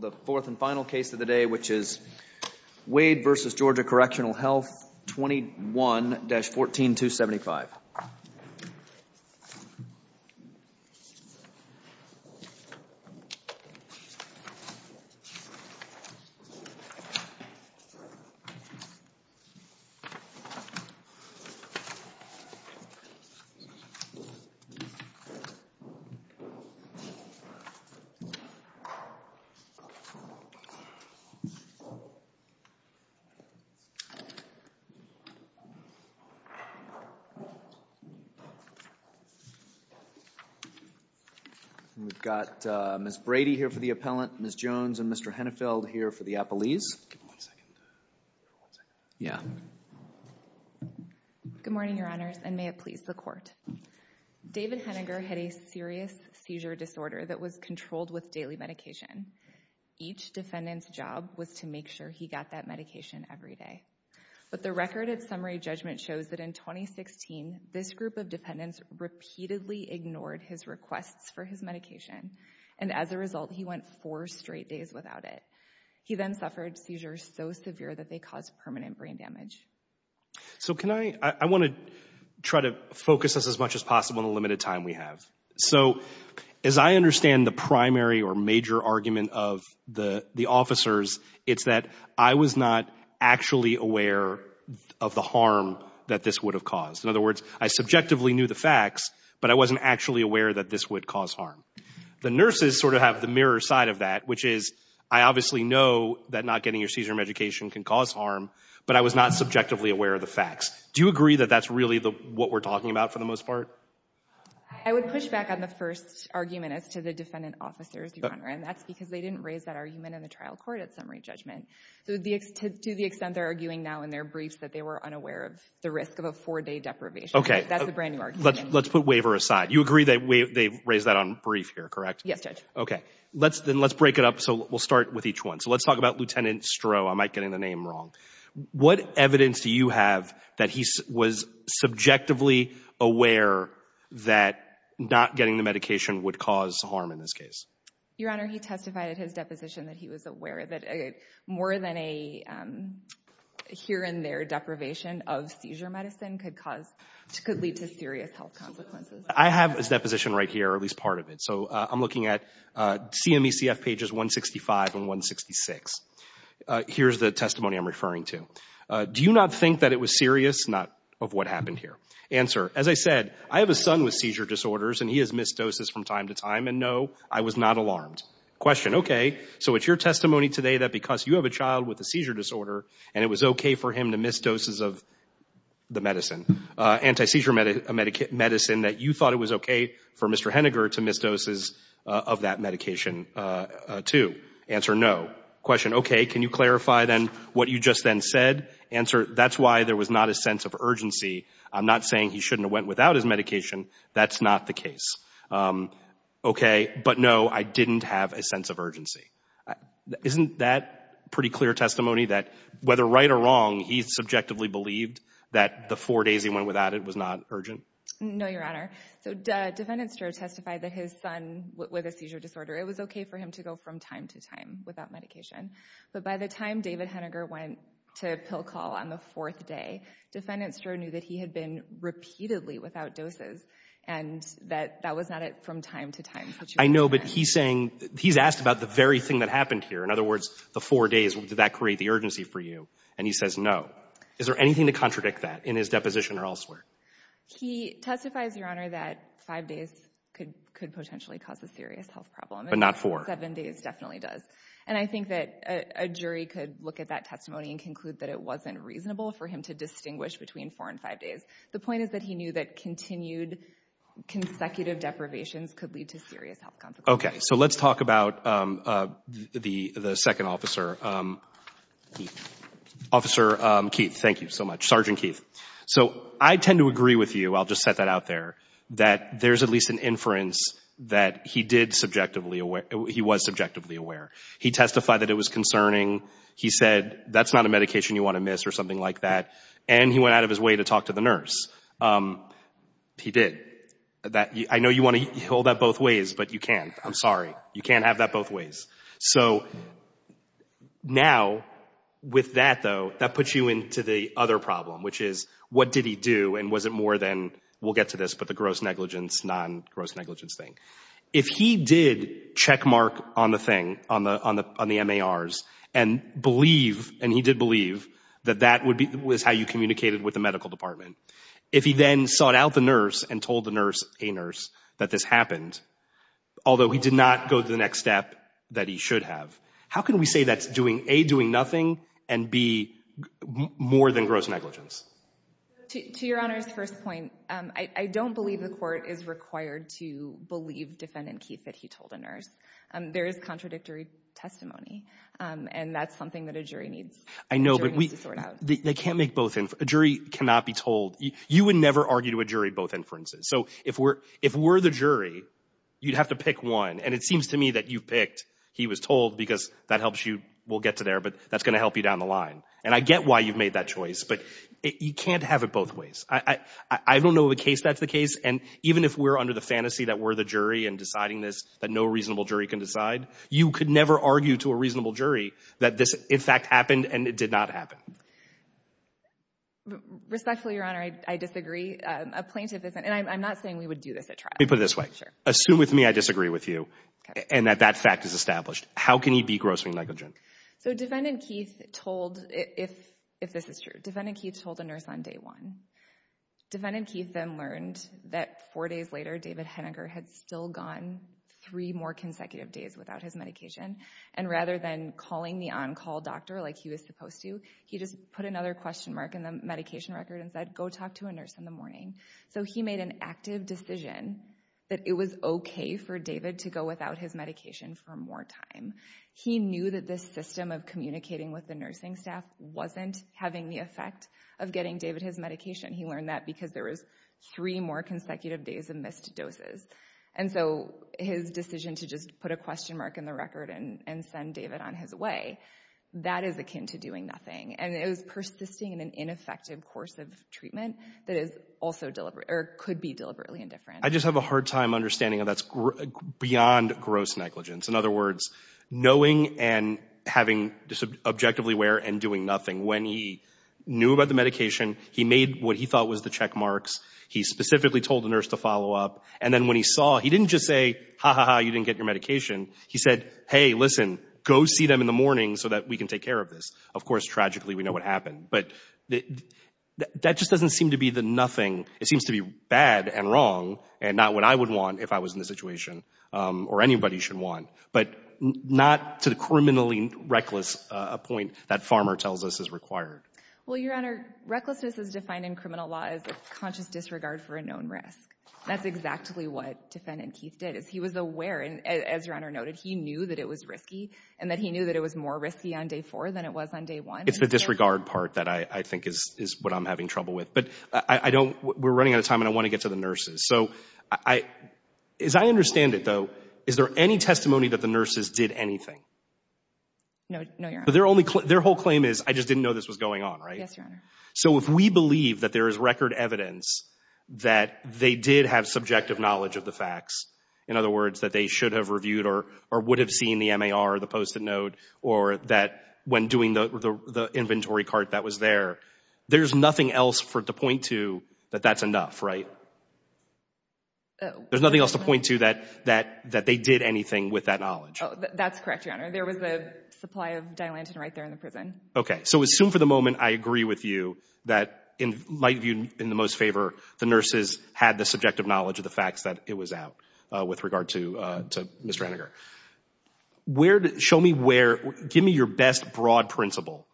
The fourth and final case of the day, which is Wade v. Georgia Correctional Health, 21-14275. We've got Ms. Brady here for the appellant, Ms. Jones and Mr. Hennefeld here for the appellees. Yeah. Good morning, your honors, and may it please the court. David Henninger had a serious seizure disorder that was controlled with daily medication. Each defendant's job was to make sure he got that medication every day. But the record of summary judgment shows that in 2016, this group of defendants repeatedly ignored his requests for his medication. And as a result, he went four straight days without it. He then suffered seizures so severe that they caused permanent brain damage. So can I—I want to try to focus this as much as possible in the limited time we have. So as I understand the primary or major argument of the officers, it's that I was not actually aware of the harm that this would have caused. In other words, I subjectively knew the facts, but I wasn't actually aware that this would cause harm. The nurses sort of have the mirror side of that, which is I obviously know that not getting your seizure medication can cause harm, but I was not subjectively aware of the facts. Do you agree that that's really what we're talking about for the most part? I would push back on the first argument as to the defendant officers, your honor, and that's because they didn't raise that argument in the trial court at summary judgment. To the extent they're arguing now in their briefs that they were unaware of the risk of a four-day deprivation. Okay. That's a brand new argument. Let's put waiver aside. You agree that they raised that on brief here, correct? Yes, Judge. Okay. Then let's break it up. So we'll start with each one. So let's talk about Lieutenant Stroh. I might get the name wrong. What evidence do you have that he was subjectively aware that not getting the medication would cause harm in this case? Your honor, he testified at his deposition that he was aware that more than a here and there deprivation of seizure medicine could cause—could lead to serious health consequences. I have his deposition right here, or at least part of it. So I'm looking at CMECF pages 165 and 166. Here's the testimony I'm referring to. Do you not think that it was serious? Not of what happened here. Answer, as I said, I have a son with seizure disorders, and he has missed doses from time to time, and no, I was not alarmed. Question, okay, so it's your testimony today that because you have a child with a seizure disorder, and it was okay for him to miss doses of the medicine, anti-seizure medicine, that you thought it was okay for Mr. Henniger to miss doses of that medication too? Answer, no. Question, okay, can you clarify then what you just then said? Answer, that's why there was not a sense of urgency. I'm not saying he shouldn't have went without his medication. That's not the case. Isn't that pretty clear testimony, that whether right or wrong, he subjectively believed that the four days he went without it was not urgent? No, Your Honor. So Defendant Stroh testified that his son with a seizure disorder, it was okay for him to go from time to time without medication. But by the time David Henniger went to pill call on the fourth day, Defendant Stroh knew that he had been repeatedly without doses, and that that was not a from-time-to-time situation. I know, but he's saying, he's asked about the very thing that happened here. In other words, the four days, did that create the urgency for you? And he says no. Is there anything to contradict that in his deposition or elsewhere? He testifies, Your Honor, that five days could potentially cause a serious health problem. But not four. Seven days definitely does. And I think that a jury could look at that testimony and conclude that it wasn't reasonable for him to distinguish between four and five days. The point is that he knew that continued consecutive deprivations could lead to serious health consequences. Okay. So let's talk about the second officer, Keith. Officer Keith, thank you so much. Sergeant Keith. So I tend to agree with you, I'll just set that out there, that there's at least an inference that he did subjectively aware, he was subjectively aware. He testified that it was concerning. He said that's not a medication you want to miss or something like that. And he went out of his way to talk to the nurse. He did. I know you want to hold that both ways, but you can't. I'm sorry. You can't have that both ways. So now, with that, though, that puts you into the other problem, which is what did he do and was it more than, we'll get to this, but the gross negligence, non-gross negligence thing. If he did checkmark on the thing, on the MARs, and believe, and he did believe that that was how you communicated with the medical department, if he then sought out the nurse and told the nurse, a nurse, that this happened, although he did not go to the next step that he should have, how can we say that's doing, A, doing nothing, and B, more than gross negligence? To Your Honor's first point, I don't believe the court is required to believe Defendant Keith that he told a nurse. There is contradictory testimony, and that's something that a jury needs to sort out. I know, but they can't make both. A jury cannot be told. You would never argue to a jury both inferences. So if we're the jury, you'd have to pick one, and it seems to me that you picked he was told because that helps you, we'll get to there, but that's going to help you down the line. And I get why you've made that choice, but you can't have it both ways. I don't know the case that's the case, and even if we're under the fantasy that we're the jury in deciding this, that no reasonable jury can decide, you could never argue to a reasonable jury that this, in fact, happened and it did not happen. Respectfully, Your Honor, I disagree. A plaintiff isn't, and I'm not saying we would do this at trial. Let me put it this way. Assume with me I disagree with you and that that fact is established. How can he be grossly negligent? So Defendant Keith told, if this is true, Defendant Keith told a nurse on day one. Defendant Keith then learned that four days later, David Henniger had still gone three more consecutive days without his medication, and rather than calling the on-call doctor like he was supposed to, he just put another question mark in the medication record and said, go talk to a nurse in the morning. So he made an active decision that it was okay for David to go without his medication for more time. He knew that this system of communicating with the nursing staff wasn't having the effect of getting David his medication. He learned that because there was three more consecutive days of missed doses. And so his decision to just put a question mark in the record and send David on his way, that is akin to doing nothing. And it was persisting in an ineffective course of treatment that is also deliberate or could be deliberately indifferent. I just have a hard time understanding how that's beyond gross negligence. In other words, knowing and having objectively aware and doing nothing. When he knew about the medication, he made what he thought was the check marks. He specifically told the nurse to follow up. And then when he saw, he didn't just say, ha, ha, ha, you didn't get your medication. He said, hey, listen, go see them in the morning so that we can take care of this. Of course, tragically, we know what happened. But that just doesn't seem to be the nothing. It seems to be bad and wrong and not what I would want if I was in this situation or anybody should want. But not to the criminally reckless point that Farmer tells us is required. Well, Your Honor, recklessness is defined in criminal law as a conscious disregard for a known risk. That's exactly what defendant Keith did, is he was aware. And as Your Honor noted, he knew that it was risky and that he knew that it was more risky on day four than it was on day one. It's the disregard part that I think is what I'm having trouble with. But we're running out of time, and I want to get to the nurses. So as I understand it, though, is there any testimony that the nurses did anything? No, Your Honor. Their whole claim is, I just didn't know this was going on, right? Yes, Your Honor. So if we believe that there is record evidence that they did have subjective knowledge of the facts, in other words, that they should have reviewed or would have seen the MAR or the post-it note, or that when doing the inventory cart that was there, there's nothing else to point to that that's enough, right? There's nothing else to point to that they did anything with that knowledge. That's correct, Your Honor. There was the supply of Dilantin right there in the prison. Okay. So assume for the moment I agree with you that in my view, in the most favor, the nurses had the subjective knowledge of the facts that it was out with regard to Ms. Stranager. Show me where, give me your best broad principle,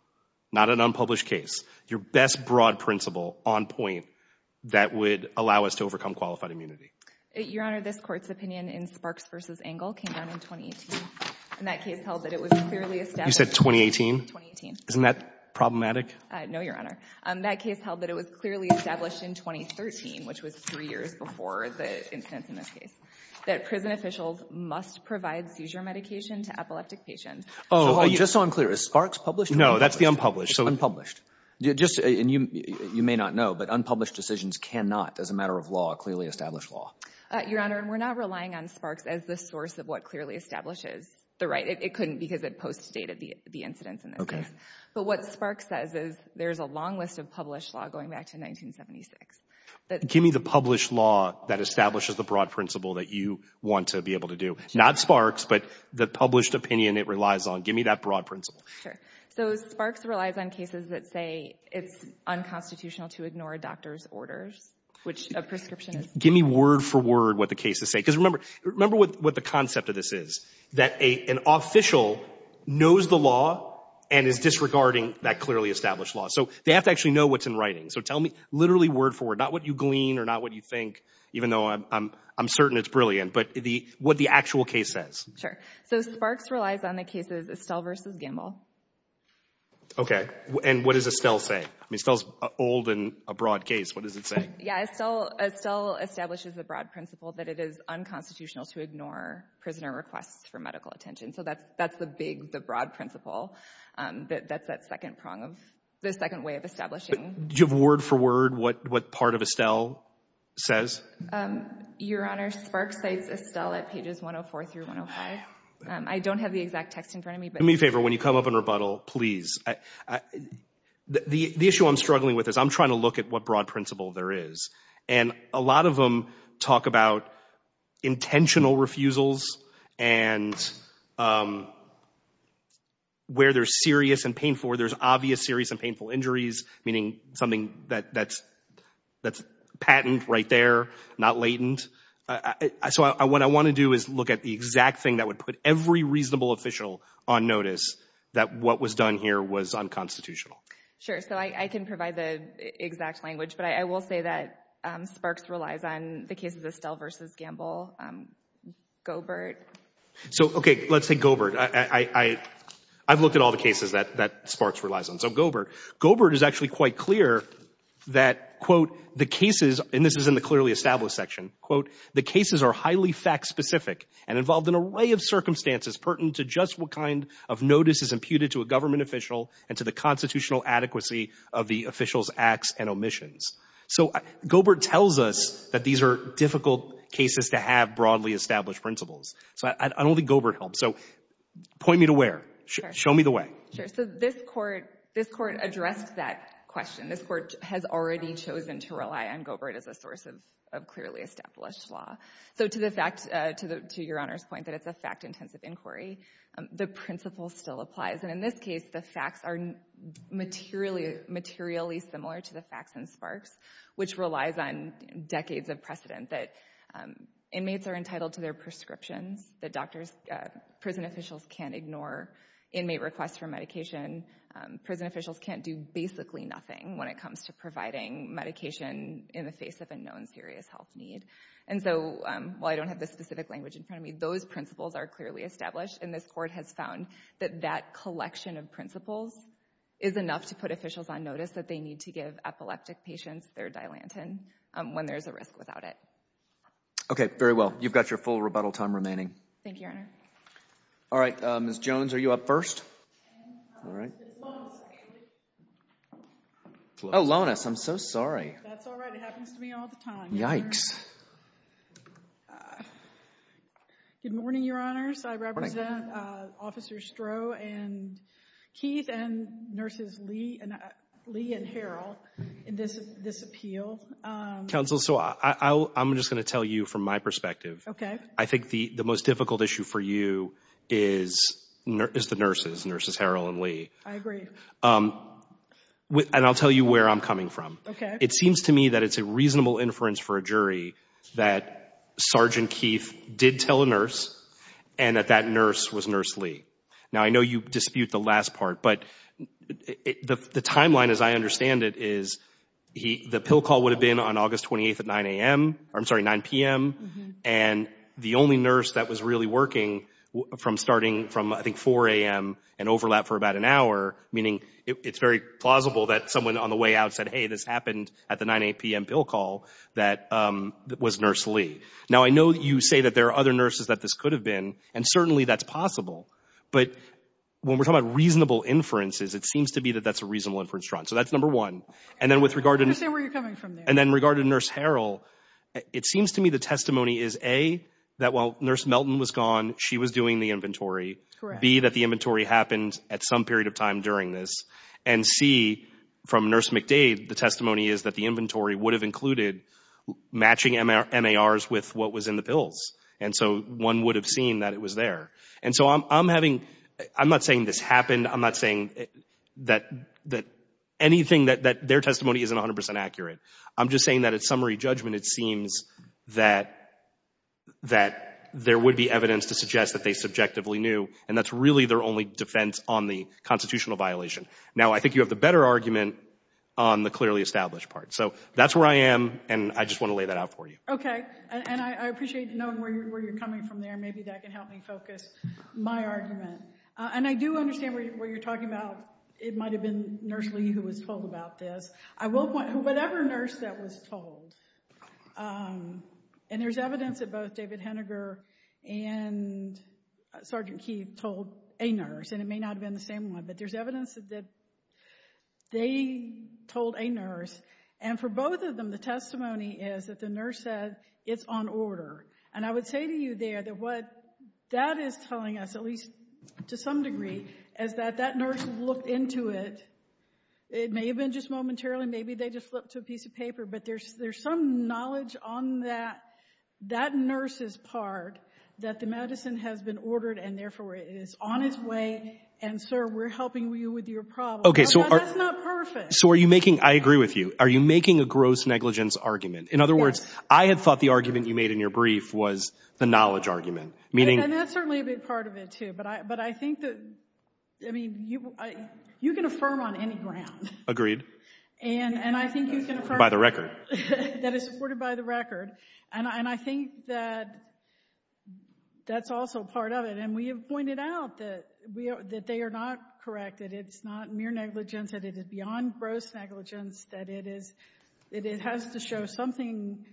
not an unpublished case, your best broad principle on point that would allow us to overcome qualified immunity. Your Honor, this Court's opinion in Sparks v. Engel came down in 2018. And that case held that it was clearly established. You said 2018? 2018. Isn't that problematic? No, Your Honor. That case held that it was clearly established in 2013, which was three years before the incidents in this case, that prison officials must provide seizure medication to epileptic patients. Just so I'm clear, is Sparks published? No, that's the unpublished. It's unpublished. You may not know, but unpublished decisions cannot, as a matter of law, clearly establish law. Your Honor, we're not relying on Sparks as the source of what clearly establishes the right. It couldn't because it post-stated the incidents in this case. Okay. But what Sparks says is there's a long list of published law going back to 1976. Give me the published law that establishes the broad principle that you want to be able to do. Not Sparks, but the published opinion it relies on. Give me that broad principle. Sure. So Sparks relies on cases that say it's unconstitutional to ignore a doctor's orders, which a prescription is. Give me word for word what the cases say. Because remember what the concept of this is, that an official knows the law and is disregarding that clearly established law. So they have to actually know what's in writing. So tell me literally word for word, not what you glean or not what you think, even though I'm certain it's brilliant, but what the actual case says. Sure. So Sparks relies on the cases Estelle v. Gamble. Okay. And what does Estelle say? I mean, Estelle's old and a broad case. What does it say? Yeah, Estelle establishes the broad principle that it is unconstitutional to ignore prisoner requests for medical attention. So that's the big, the broad principle. That's that second prong of the second way of establishing. Do you have word for word what part of Estelle says? Your Honor, Sparks cites Estelle at pages 104 through 105. I don't have the exact text in front of me. Do me a favor, when you come up in rebuttal, please. The issue I'm struggling with is I'm trying to look at what broad principle there is. And a lot of them talk about intentional refusals and where there's serious and painful, where there's obvious serious and painful injuries, meaning something that's patent right there, not latent. So what I want to do is look at the exact thing that would put every reasonable official on notice that what was done here was unconstitutional. Sure, so I can provide the exact language, but I will say that Sparks relies on the case of Estelle v. Gamble, Goebert. So, okay, let's take Goebert. I've looked at all the cases that Sparks relies on, so Goebert. Goebert is actually quite clear that, quote, the cases, and this is in the clearly established section, quote, the cases are highly fact-specific and involve an array of circumstances pertinent to just what kind of notice is imputed to a government official and to the constitutional adequacy of the official's acts and omissions. So Goebert tells us that these are difficult cases to have broadly established principles. So I don't think Goebert helps. So point me to where. Show me the way. Sure. So this Court addressed that question. This Court has already chosen to rely on Goebert as a source of clearly established law. So to the fact, to your Honor's point, that it's a fact-intensive inquiry, the principle still applies. And in this case, the facts are materially similar to the facts in Sparks, which relies on decades of precedent that inmates are entitled to their prescriptions, that doctors, prison officials can't ignore inmate requests for medication. Prison officials can't do basically nothing when it comes to providing medication in the face of a known serious health need. And so while I don't have the specific language in front of me, those principles are clearly established. And this Court has found that that collection of principles is enough to put officials on notice that they need to give epileptic patients their Dilantin when there's a risk without it. Okay. Very well. You've got your full rebuttal time remaining. Thank you, Your Honor. All right. Ms. Jones, are you up first? All right. Oh, Lonas, I'm so sorry. That's all right. It happens to me all the time. Yikes. Good morning, Your Honors. Good morning. I represent Officers Stroh and Keith and Nurses Lee and Harrell in this appeal. Counsel, so I'm just going to tell you from my perspective. Okay. I think the most difficult issue for you is the nurses, Nurses Harrell and Lee. I agree. And I'll tell you where I'm coming from. Okay. It seems to me that it's a reasonable inference for a jury that Sergeant Keith did tell a nurse and that that nurse was Nurse Lee. Now, I know you dispute the last part, but the timeline as I understand it is the pill call would have been on August 28th at 9 a.m. I'm sorry, 9 p.m., and the only nurse that was really working from starting from, I think, 4 a.m. and overlap for about an hour, meaning it's very plausible that someone on the way out said, hey, this happened at the 9 a.m. pill call that was Nurse Lee. Now, I know you say that there are other nurses that this could have been, and certainly that's possible. But when we're talking about reasonable inferences, it seems to be that that's a reasonable inference. So that's number one. And then with regard to Nurse Harrell, it seems to me the testimony is, A, that while Nurse Melton was gone, she was doing the inventory, B, that the inventory happened at some period of time during this, and C, from Nurse McDade, the testimony is that the inventory would have included matching MARs with what was in the pills, and so one would have seen that it was there. And so I'm having, I'm not saying this happened. I'm not saying that anything, that their testimony isn't 100 percent accurate. I'm just saying that at summary judgment, it seems that there would be evidence to suggest that they subjectively knew, and that's really their only defense on the constitutional violation. Now, I think you have the better argument on the clearly established part. So that's where I am, and I just want to lay that out for you. Okay, and I appreciate knowing where you're coming from there. Maybe that can help me focus my argument. And I do understand what you're talking about. It might have been Nurse Lee who was told about this. I will point, whatever nurse that was told, and there's evidence that both David Henniger and Sergeant Keefe told a nurse, and it may not have been the same one, but there's evidence that they told a nurse. And for both of them, the testimony is that the nurse said, it's on order. And I would say to you there that what that is telling us, at least to some degree, is that that nurse looked into it. It may have been just momentarily. Maybe they just flipped to a piece of paper, but there's some knowledge on that nurse's part that the medicine has been ordered and, therefore, it is on its way, and, sir, we're helping you with your problem. But that's not perfect. So are you making, I agree with you, are you making a gross negligence argument? Yes. Because I had thought the argument you made in your brief was the knowledge argument. And that's certainly a big part of it, too. But I think that, I mean, you can affirm on any ground. Agreed. By the record. That is supported by the record. And I think that that's also part of it. And we have pointed out that they are not correct, that it's not mere negligence, that it is beyond gross negligence, that it has to show something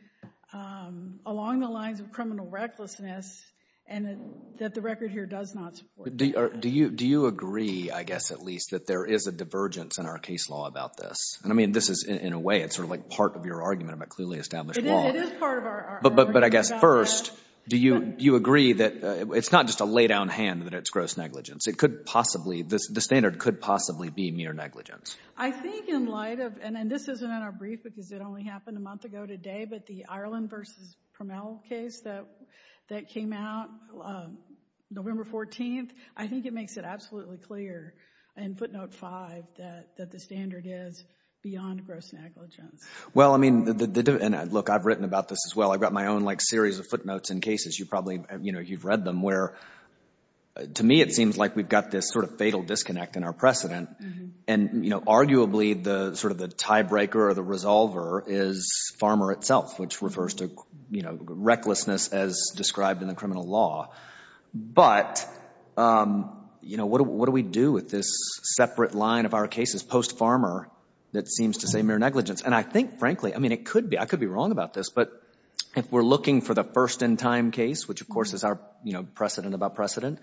along the lines of criminal recklessness, and that the record here does not support that. Do you agree, I guess, at least, that there is a divergence in our case law about this? And, I mean, this is, in a way, it's sort of like part of your argument about clearly established law. It is part of our argument about this. But, I guess, first, do you agree that it's not just a lay down hand that it's gross negligence? It could possibly, the standard could possibly be mere negligence. I think in light of, and this isn't in our brief because it only happened a month ago today, but the Ireland v. Promell case that came out November 14th, I think it makes it absolutely clear in footnote 5 that the standard is beyond gross negligence. Well, I mean, look, I've written about this as well. I've got my own, like, series of footnotes and cases. You probably, you know, you've read them where, to me, it seems like we've got this sort of fatal disconnect in our precedent. And, you know, arguably, sort of the tiebreaker or the resolver is farmer itself, which refers to, you know, recklessness as described in the criminal law. But, you know, what do we do with this separate line of our cases post-farmer that seems to say mere negligence? And I think, frankly, I mean, it could be. I could be wrong about this. But if we're looking for the first in time case, which, of course, is our precedent about precedent,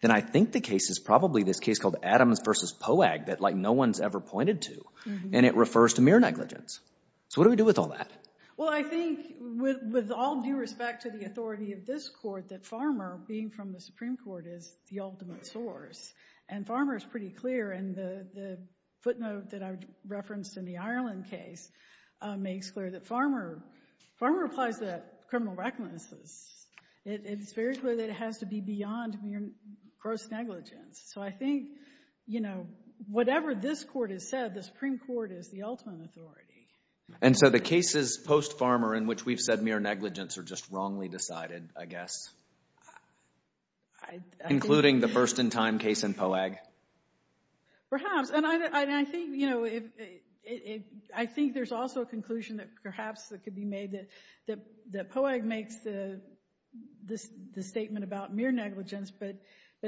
then I think the case is probably this case called Adams v. Poag that, like, no one's ever pointed to. And it refers to mere negligence. So what do we do with all that? Well, I think with all due respect to the authority of this Court that farmer, being from the Supreme Court, is the ultimate source. And farmer is pretty clear. And the footnote that I referenced in the Ireland case makes clear that farmer applies to criminal recklessness. It's very clear that it has to be beyond mere gross negligence. So I think, you know, whatever this Court has said, the Supreme Court is the ultimate authority. And so the cases post-farmer in which we've said mere negligence are just wrongly decided, I guess? Including the first in time case in Poag? Perhaps. And I think, you know, I think there's also a conclusion that perhaps it could be made that Poag makes the statement about mere negligence. But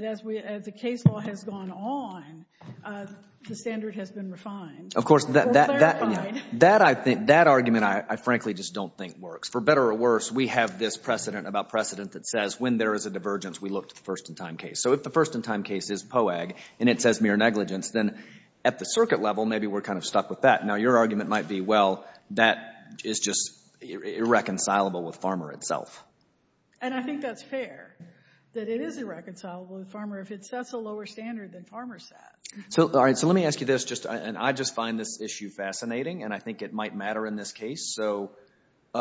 as the case law has gone on, the standard has been refined. Of course, that argument I frankly just don't think works. For better or worse, we have this precedent about precedent that says when there is a divergence, we look to the first in time case. So if the first in time case is Poag and it says mere negligence, then at the circuit level, maybe we're kind of stuck with that. Now, your argument might be, well, that is just irreconcilable with farmer itself. And I think that's fair, that it is irreconcilable with farmer if it sets a lower standard than farmer set. So let me ask you this. And I just find this issue fascinating, and I think it might matter in this case. So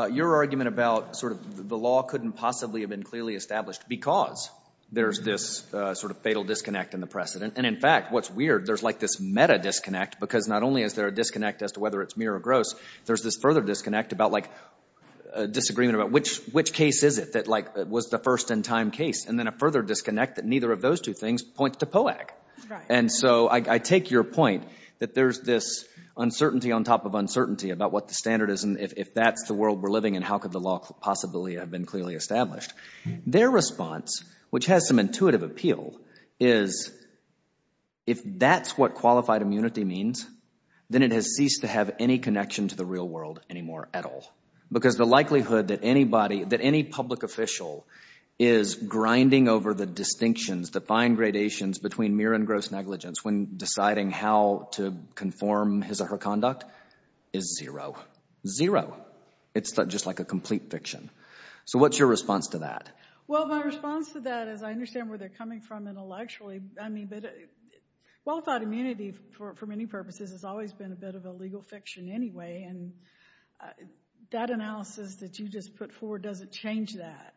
your argument about sort of the law couldn't possibly have been clearly established because there's this sort of fatal disconnect in the precedent. And, in fact, what's weird, there's like this meta disconnect because not only is there a disconnect as to whether it's mere or gross, there's this further disconnect about like a disagreement about which case is it that like was the first in time case, and then a further disconnect that neither of those two things point to Poag. And so I take your point that there's this uncertainty on top of uncertainty about what the standard is and if that's the world we're living in, how could the law possibly have been clearly established? Their response, which has some intuitive appeal, is if that's what qualified immunity means, then it has ceased to have any connection to the real world anymore at all because the likelihood that any public official is grinding over the distinctions, the fine gradations between mere and gross negligence when deciding how to conform his or her conduct is zero. Zero. It's just like a complete fiction. So what's your response to that? Well, my response to that is I understand where they're coming from intellectually. I mean, qualified immunity for many purposes has always been a bit of a legal fiction anyway, and that analysis that you just put forward doesn't change that.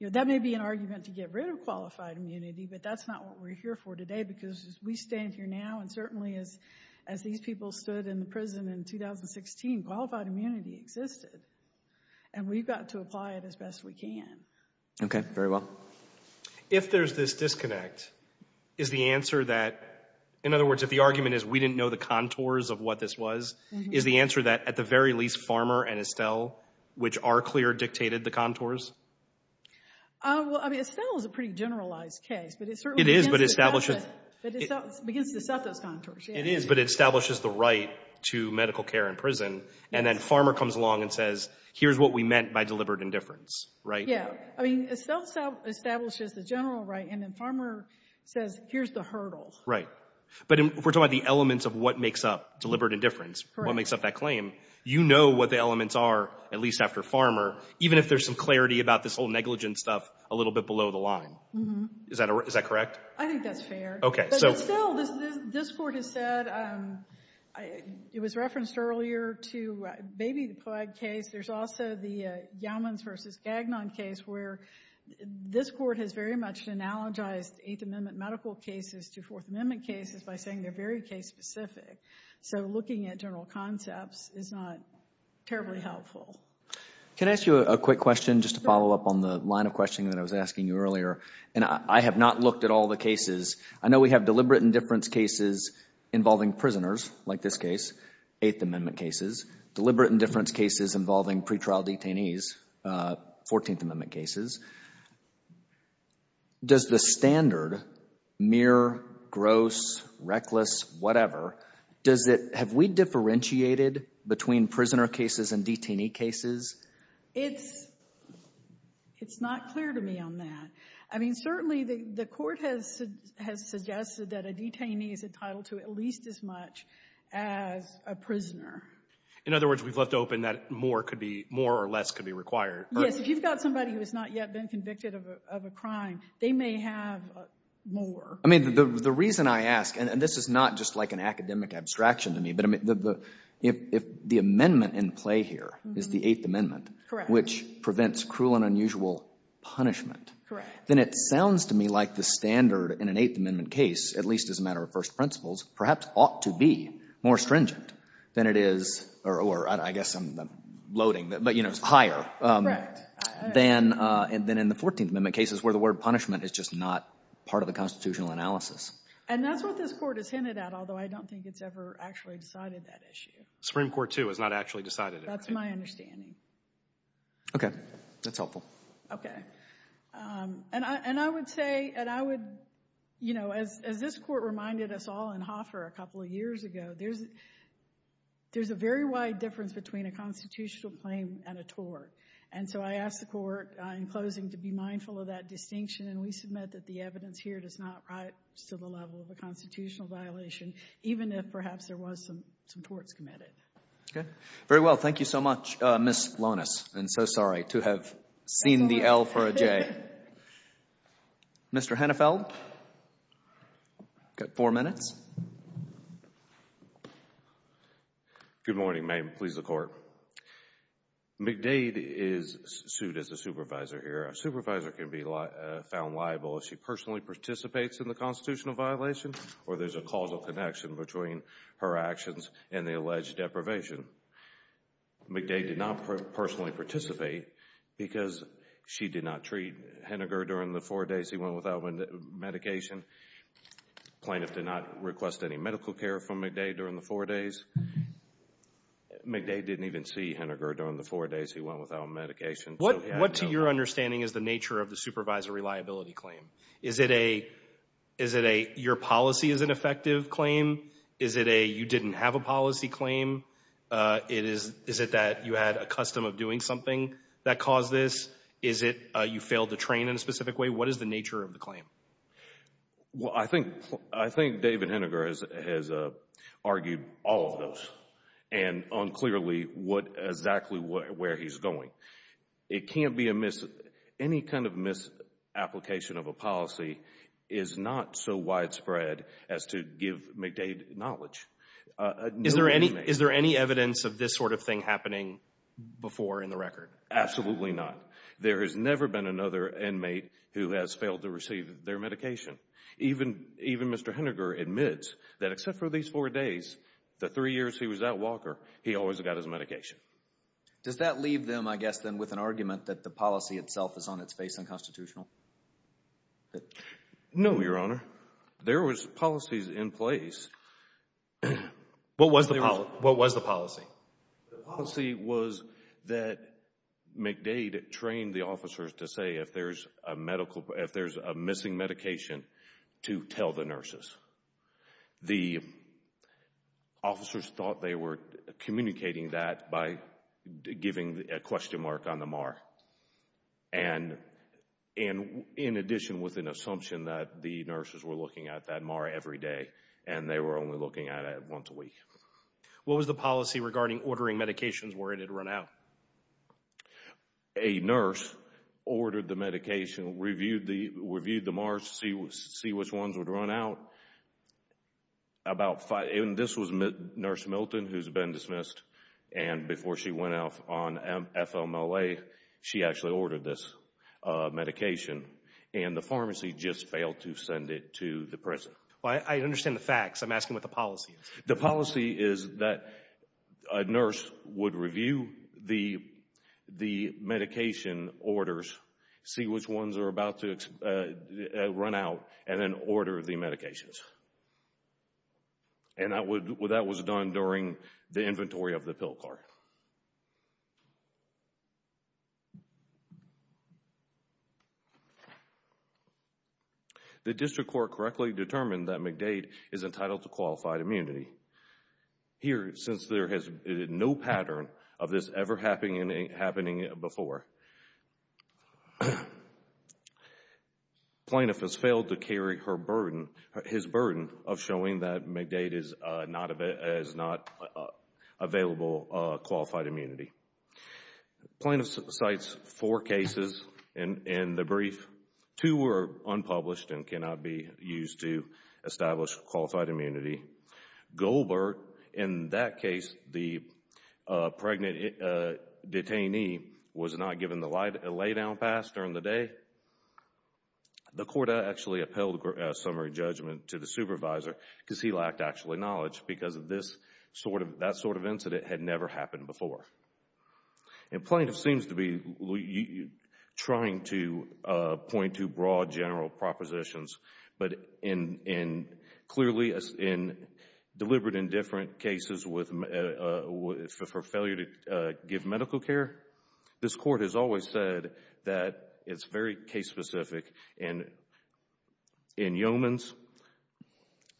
You know, that may be an argument to get rid of qualified immunity, but that's not what we're here for today because we stand here now and certainly as these people stood in the prison in 2016, qualified immunity existed, and we've got to apply it as best we can. Okay. Very well. If there's this disconnect, is the answer that, in other words, if the argument is we didn't know the contours of what this was, is the answer that at the very least Farmer and Estelle, which are clear, dictated the contours? Well, I mean, Estelle is a pretty generalized case, but it certainly begins to set those contours. It is, but it establishes the right to medical care in prison, and then Farmer comes along and says here's what we meant by deliberate indifference, right? Yeah. I mean, Estelle establishes the general right, and then Farmer says here's the hurdle. Right. But we're talking about the elements of what makes up deliberate indifference, what makes up that claim. You know what the elements are, at least after Farmer, even if there's some clarity about this whole negligence stuff a little bit below the line. Is that correct? I think that's fair. Okay. But still, this Court has said it was referenced earlier to Baby the Plague case. There's also the Gaumans v. Gagnon case where this Court has very much analogized Eighth Amendment medical cases to Fourth Amendment cases by saying they're very case specific. So looking at general concepts is not terribly helpful. Can I ask you a quick question just to follow up on the line of questioning that I was asking you earlier? And I have not looked at all the cases. I know we have deliberate indifference cases involving prisoners, like this case, Eighth Amendment cases, deliberate indifference cases involving pretrial detainees, Fourteenth Amendment cases. Does the standard, mere, gross, reckless, whatever, have we differentiated between prisoner cases and detainee cases? It's not clear to me on that. I mean, certainly the Court has suggested that a detainee is entitled to at least as much as a prisoner. In other words, we've left open that more or less could be required. Yes, if you've got somebody who has not yet been convicted of a crime, they may have more. I mean, the reason I ask, and this is not just like an academic abstraction to me, but if the amendment in play here is the Eighth Amendment, which prevents cruel and unusual punishment, then it sounds to me like the standard in an Eighth Amendment case, at least as a matter of first principles, perhaps ought to be more stringent than it is, or I guess I'm loading, but, you know, higher, than in the Fourteenth Amendment cases where the word punishment is just not part of the constitutional analysis. And that's what this Court has hinted at, although I don't think it's ever actually decided that issue. Supreme Court, too, has not actually decided it. That's my understanding. Okay. That's helpful. Okay. And I would say, and I would, you know, as this Court reminded us all in Hoffer a couple of years ago, there's a very wide difference between a constitutional claim and a tort. And so I asked the Court in closing to be mindful of that distinction, and we submit that the evidence here does not write to the level of a constitutional violation, even if perhaps there was some torts committed. Okay. Very well. Thank you so much, Ms. Lonis, and so sorry to have seen the L for a J. Mr. Hennefeld, you've got four minutes. Good morning. May it please the Court. McDade is sued as a supervisor here. A supervisor can be found liable if she personally participates in the constitutional violation or there's a causal connection between her actions and the alleged deprivation. McDade did not personally participate because she did not treat Henneger during the four days he went without medication. Plaintiff did not request any medical care from McDade during the four days. McDade didn't even see Henneger during the four days he went without medication. What, to your understanding, is the nature of the supervisor reliability claim? Is it a your policy is ineffective claim? Is it a you didn't have a policy claim? Is it that you had a custom of doing something that caused this? Is it you failed to train in a specific way? What is the nature of the claim? Well, I think David Henneger has argued all of those and unclearly exactly where he's going. Any kind of misapplication of a policy is not so widespread as to give McDade knowledge. Is there any evidence of this sort of thing happening before in the record? Absolutely not. There has never been another inmate who has failed to receive their medication. Even Mr. Henneger admits that except for these four days, the three years he was at Walker, he always got his medication. Does that leave them, I guess, then with an argument that the policy itself is on its face unconstitutional? No, Your Honor. There was policies in place. What was the policy? The policy was that McDade trained the officers to say if there's a medical, if there's a missing medication to tell the nurses. The officers thought they were communicating that by giving a question mark on the MAR. And in addition with an assumption that the nurses were looking at that MAR every day and they were only looking at it once a week. What was the policy regarding ordering medications where it had run out? A nurse ordered the medication, reviewed the MARs to see which ones would run out. This was Nurse Milton who's been dismissed. And before she went out on FMLA, she actually ordered this medication. And the pharmacy just failed to send it to the prison. I understand the facts. I'm asking what the policy is. The policy is that a nurse would review the medication orders, see which ones are about to run out, and then order the medications. And that was done during the inventory of the pill cart. The district court correctly determined that McDade is entitled to qualified immunity. Here, since there has been no pattern of this ever happening before, plaintiff has failed to carry her burden, his burden of showing that McDade is not available qualified immunity. Plaintiff cites four cases in the brief. Two were unpublished and cannot be used to establish qualified immunity. Goldberg, in that case, the pregnant detainee was not given the lay down pass during the day. The court actually upheld a summary judgment to the supervisor because he lacked actually knowledge because that sort of incident had never happened before. And plaintiff seems to be trying to point to broad general propositions, but clearly deliberate in different cases for failure to give medical care. This court has always said that it's very case specific in yeomans,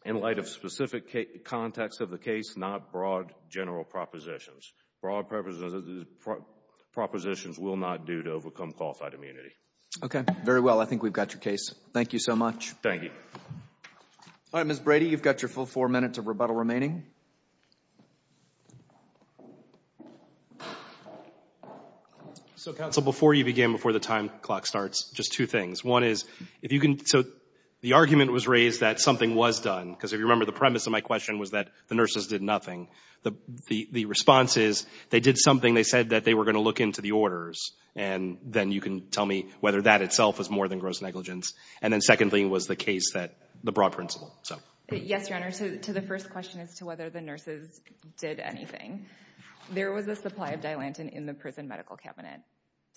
in light of specific context of the case, not broad general propositions. Broad propositions will not do to overcome qualified immunity. Okay. Very well. I think we've got your case. Thank you so much. Thank you. All right, Ms. Brady, you've got your full four minutes of rebuttal remaining. So, counsel, before you begin, before the time clock starts, just two things. One is, if you can, so the argument was raised that something was done, because if you remember, the premise of my question was that the nurses did nothing. The response is they did something. They said that they were going to look into the orders. And then you can tell me whether that itself is more than gross negligence. And then secondly, it was the case that the broad principle. Yes, Your Honor. To the first question as to whether the nurses did anything. There was a supply of Dilantin in the prison medical cabinet.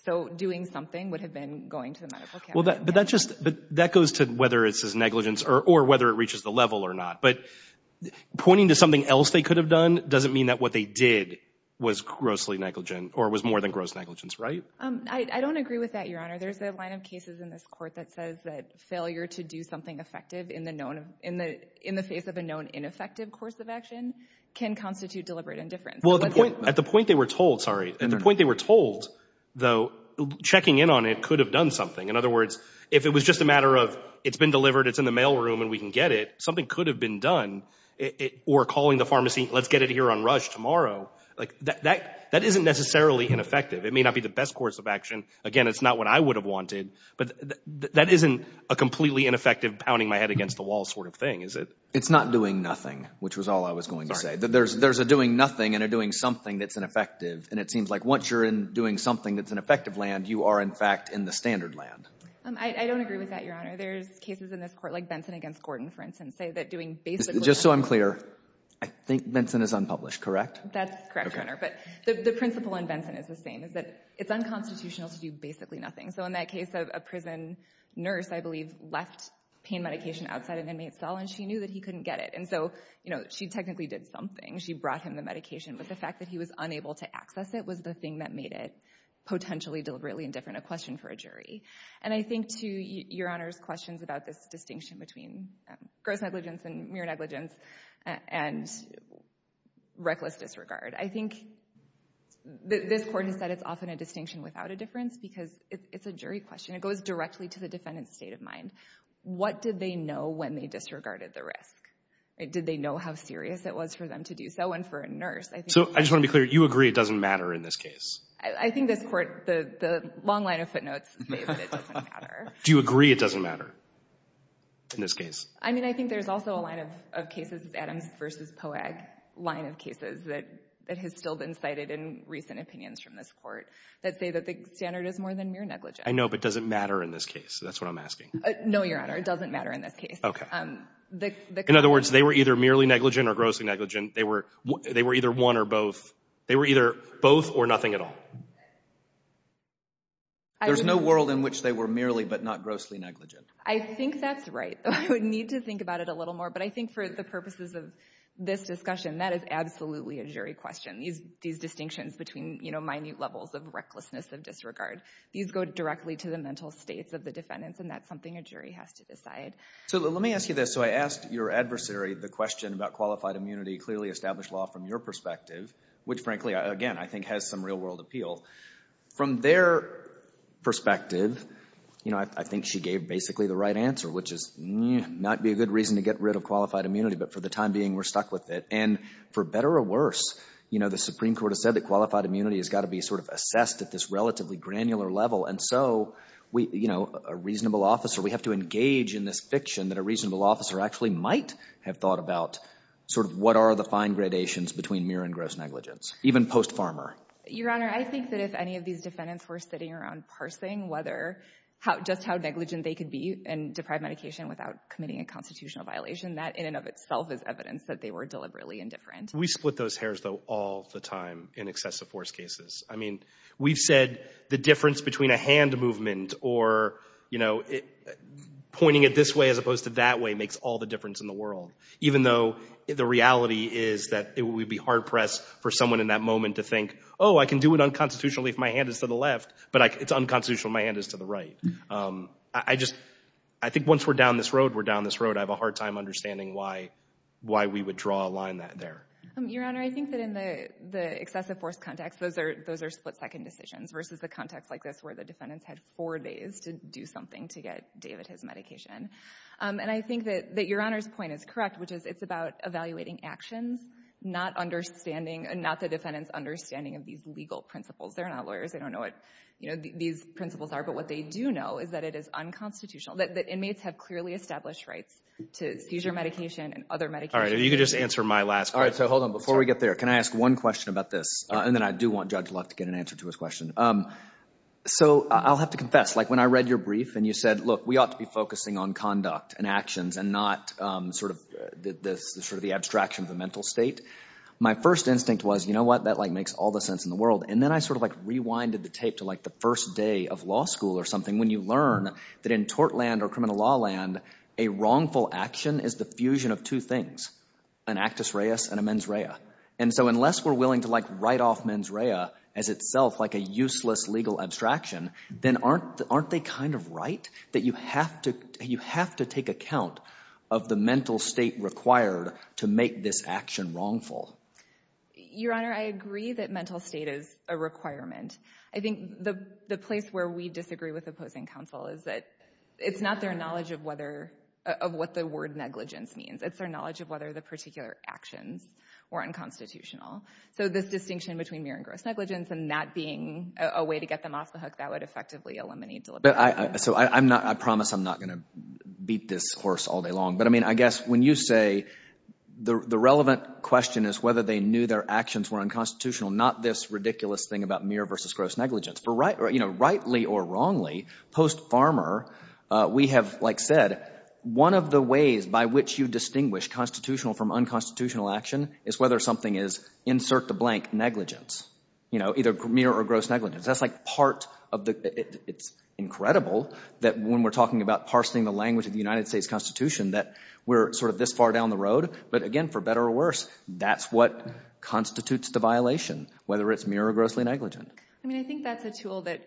So doing something would have been going to the medical cabinet. But that just, that goes to whether it's negligence or whether it reaches the level or not. But pointing to something else they could have done doesn't mean that what they did was grossly negligent or was more than gross negligence, right? Your Honor, there's a line of cases in this court that says that failure to do something effective in the face of a known ineffective course of action can constitute deliberate indifference. Well, at the point they were told, sorry, at the point they were told, though, checking in on it could have done something. In other words, if it was just a matter of it's been delivered, it's in the mail room and we can get it, something could have been done. Or calling the pharmacy, let's get it here on rush tomorrow. Like, that isn't necessarily ineffective. It may not be the best course of action. Again, it's not what I would have wanted. But that isn't a completely ineffective pounding my head against the wall sort of thing, is it? It's not doing nothing, which was all I was going to say. There's a doing nothing and a doing something that's ineffective. And it seems like once you're doing something that's in effective land, you are, in fact, in the standard land. I don't agree with that, Your Honor. There's cases in this court, like Benson v. Gordon, for instance, say that doing basically – Just so I'm clear, I think Benson is unpublished, correct? That's correct, Your Honor. But the principle in Benson is the same, is that it's unconstitutional to do basically nothing. So in that case of a prison nurse, I believe, left pain medication outside an inmate's cell and she knew that he couldn't get it. And so, you know, she technically did something. She brought him the medication, but the fact that he was unable to access it was the thing that made it potentially, deliberately indifferent a question for a jury. And I think, too, Your Honor's questions about this distinction between gross negligence and mere negligence and reckless disregard. I think this court has said it's often a distinction without a difference because it's a jury question. It goes directly to the defendant's state of mind. What did they know when they disregarded the risk? Did they know how serious it was for them to do so? And for a nurse, I think – So I just want to be clear. You agree it doesn't matter in this case? I think this court – the long line of footnotes say that it doesn't matter. Do you agree it doesn't matter in this case? I mean, I think there's also a line of cases, Adams v. Poag line of cases that has still been cited in recent opinions from this court that say that the standard is more than mere negligence. I know, but does it matter in this case? That's what I'm asking. No, Your Honor. It doesn't matter in this case. Okay. In other words, they were either merely negligent or grossly negligent. They were either one or both. They were either both or nothing at all. There's no world in which they were merely but not grossly negligent. I think that's right. I would need to think about it a little more, but I think for the purposes of this discussion, that is absolutely a jury question. These distinctions between minute levels of recklessness, of disregard, these go directly to the mental states of the defendants, and that's something a jury has to decide. So let me ask you this. So I asked your adversary the question about qualified immunity, clearly established law from your perspective, which frankly, again, I think has some real-world appeal. From their perspective, you know, I think she gave basically the right answer, which is not be a good reason to get rid of qualified immunity, but for the time being, we're stuck with it. And for better or worse, you know, the Supreme Court has said that qualified immunity has got to be sort of assessed at this relatively granular level. And so, you know, a reasonable officer, we have to engage in this fiction that a reasonable officer actually might have thought about sort of what are the fine gradations between mere and gross negligence, even post-farmer. Your Honor, I think that if any of these defendants were sitting around parsing whether – just how negligent they could be and deprive medication without committing a constitutional violation, that in and of itself is evidence that they were deliberately indifferent. We split those hairs, though, all the time in excessive force cases. I mean, we've said the difference between a hand movement or, you know, pointing it this way as opposed to that way makes all the difference in the world, even though the reality is that it would be hard-pressed for someone in that moment to think, oh, I can do it unconstitutionally if my hand is to the left, but it's unconstitutional if my hand is to the right. I just – I think once we're down this road, we're down this road. I have a hard time understanding why we would draw a line there. Your Honor, I think that in the excessive force context, those are split-second decisions versus the context like this where the defendants had four days to do something to get David his medication. And I think that Your Honor's point is correct, which is it's about evaluating actions, not understanding – not the defendants' understanding of these legal principles. They're not lawyers. They don't know what these principles are. But what they do know is that it is unconstitutional, that inmates have clearly established rights to seizure medication and other medications. All right. You can just answer my last question. All right. So hold on. Before we get there, can I ask one question about this? And then I do want Judge Luck to get an answer to his question. So I'll have to confess. Like when I read your brief and you said, look, we ought to be focusing on conduct and actions and not sort of the abstraction of the mental state, my first instinct was, you know what? That makes all the sense in the world. And then I sort of like rewinded the tape to like the first day of law school or something when you learn that in tort land or criminal law land, a wrongful action is the fusion of two things, an actus reus and a mens rea. And so unless we're willing to like write off mens rea as itself like a useless legal abstraction, then aren't they kind of right that you have to take account of the mental state required to make this action wrongful? Your Honor, I agree that mental state is a requirement. I think the place where we disagree with opposing counsel is that it's not their knowledge of whether – of what the word negligence means. It's their knowledge of whether the particular actions were unconstitutional. So this distinction between mere and gross negligence and that being a way to get them off the hook, that would effectively eliminate deliberation. So I'm not – I promise I'm not going to beat this horse all day long. But, I mean, I guess when you say the relevant question is whether they knew their actions were unconstitutional, not this ridiculous thing about mere versus gross negligence. For rightly or wrongly, post-Farmer, we have like said one of the ways by which you distinguish constitutional from unconstitutional action is whether something is insert the blank negligence, either mere or gross negligence. That's like part of the – it's incredible that when we're talking about parsing the language of the United States Constitution that we're sort of this far down the road. But, again, for better or worse, that's what constitutes the violation, whether it's mere or grossly negligent. I mean, I think that's a tool that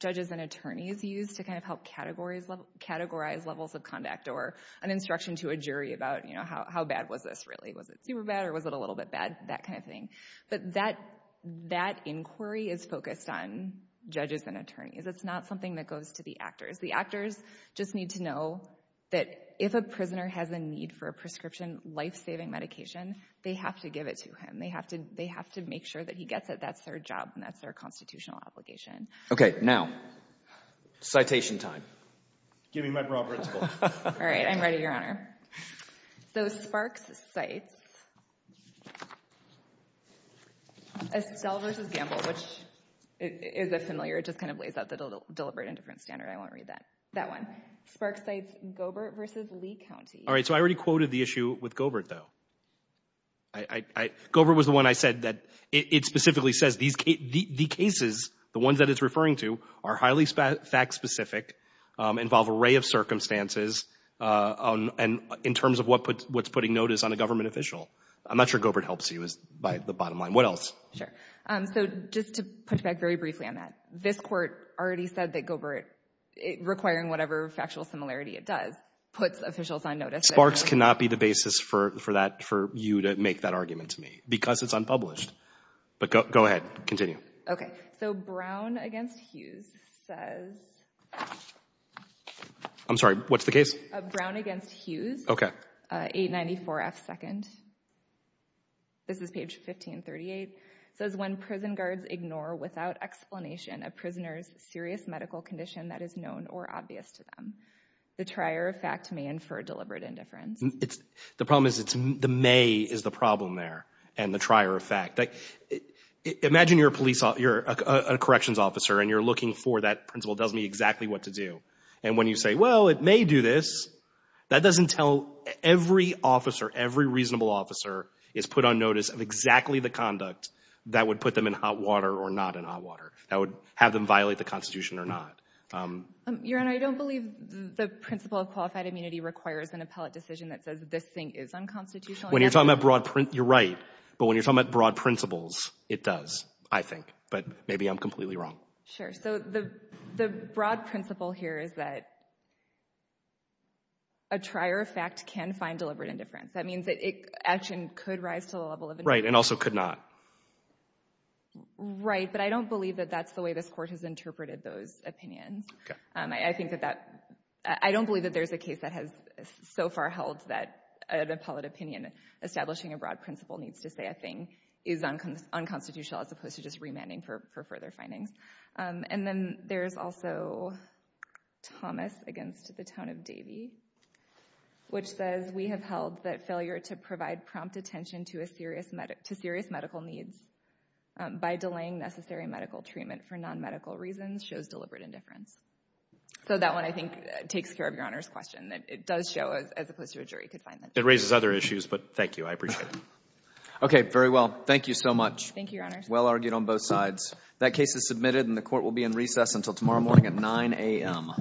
judges and attorneys use to kind of help categorize levels of conduct or an instruction to a jury about how bad was this really. Was it super bad or was it a little bit bad, that kind of thing? But that inquiry is focused on judges and attorneys. It's not something that goes to the actors. The actors just need to know that if a prisoner has a need for a prescription life-saving medication, they have to give it to him. They have to make sure that he gets it. That's their job and that's their constitutional obligation. Okay, now, citation time. All right, I'm ready, Your Honor. So, Sparks cites Estelle v. Gamble, which is a familiar – it just kind of lays out the deliberate indifference standard. I won't read that one. Sparks cites Goebert v. Lee County. All right, so I already quoted the issue with Goebert, though. Goebert was the one I said that it specifically says the cases, the ones that it's referring to, are highly fact-specific, involve an array of circumstances in terms of what's putting notice on a government official. I'm not sure Goebert helps you by the bottom line. What else? Sure. So, just to push back very briefly on that, this court already said that Goebert, requiring whatever factual similarity it does, puts officials on notice. Sparks cannot be the basis for you to make that argument to me because it's unpublished. But go ahead. Continue. Okay. So, Brown v. Hughes says – I'm sorry. What's the case? Brown v. Hughes. Okay. 894 F. 2nd. This is page 1538. It says, when prison guards ignore without explanation a prisoner's serious medical condition that is known or obvious to them, the trier of fact may infer deliberate indifference. The problem is the may is the problem there and the trier of fact. Imagine you're a police – you're a corrections officer and you're looking for that principle. It tells me exactly what to do. And when you say, well, it may do this, that doesn't tell every officer, every reasonable officer, is put on notice of exactly the conduct that would put them in hot water or not in hot water, that would have them violate the Constitution or not. Your Honor, I don't believe the principle of qualified immunity requires an appellate decision that says this thing is unconstitutional. When you're talking about broad – you're right. But when you're talking about broad principles, it does, I think. But maybe I'm completely wrong. Sure. So the broad principle here is that a trier of fact can find deliberate indifference. That means that action could rise to the level of – Right. And also could not. Right. But I don't believe that that's the way this Court has interpreted those opinions. Okay. I think that that – I don't believe that there's a case that has so far held that an appellate opinion establishing a broad principle needs to say a thing is unconstitutional as opposed to just remanding for further findings. And then there's also Thomas against the tone of Davey, which says, we have held that failure to provide prompt attention to serious medical needs by delaying necessary medical treatment for nonmedical reasons shows deliberate indifference. So that one, I think, takes care of Your Honor's question, that it does show as opposed to a jury confinement. It raises other issues, but thank you. I appreciate it. Okay. Very well. Thank you so much. Thank you, Your Honor. Well argued on both sides. That case is submitted and the Court will be in recess until tomorrow morning at 9 a.m. All rise.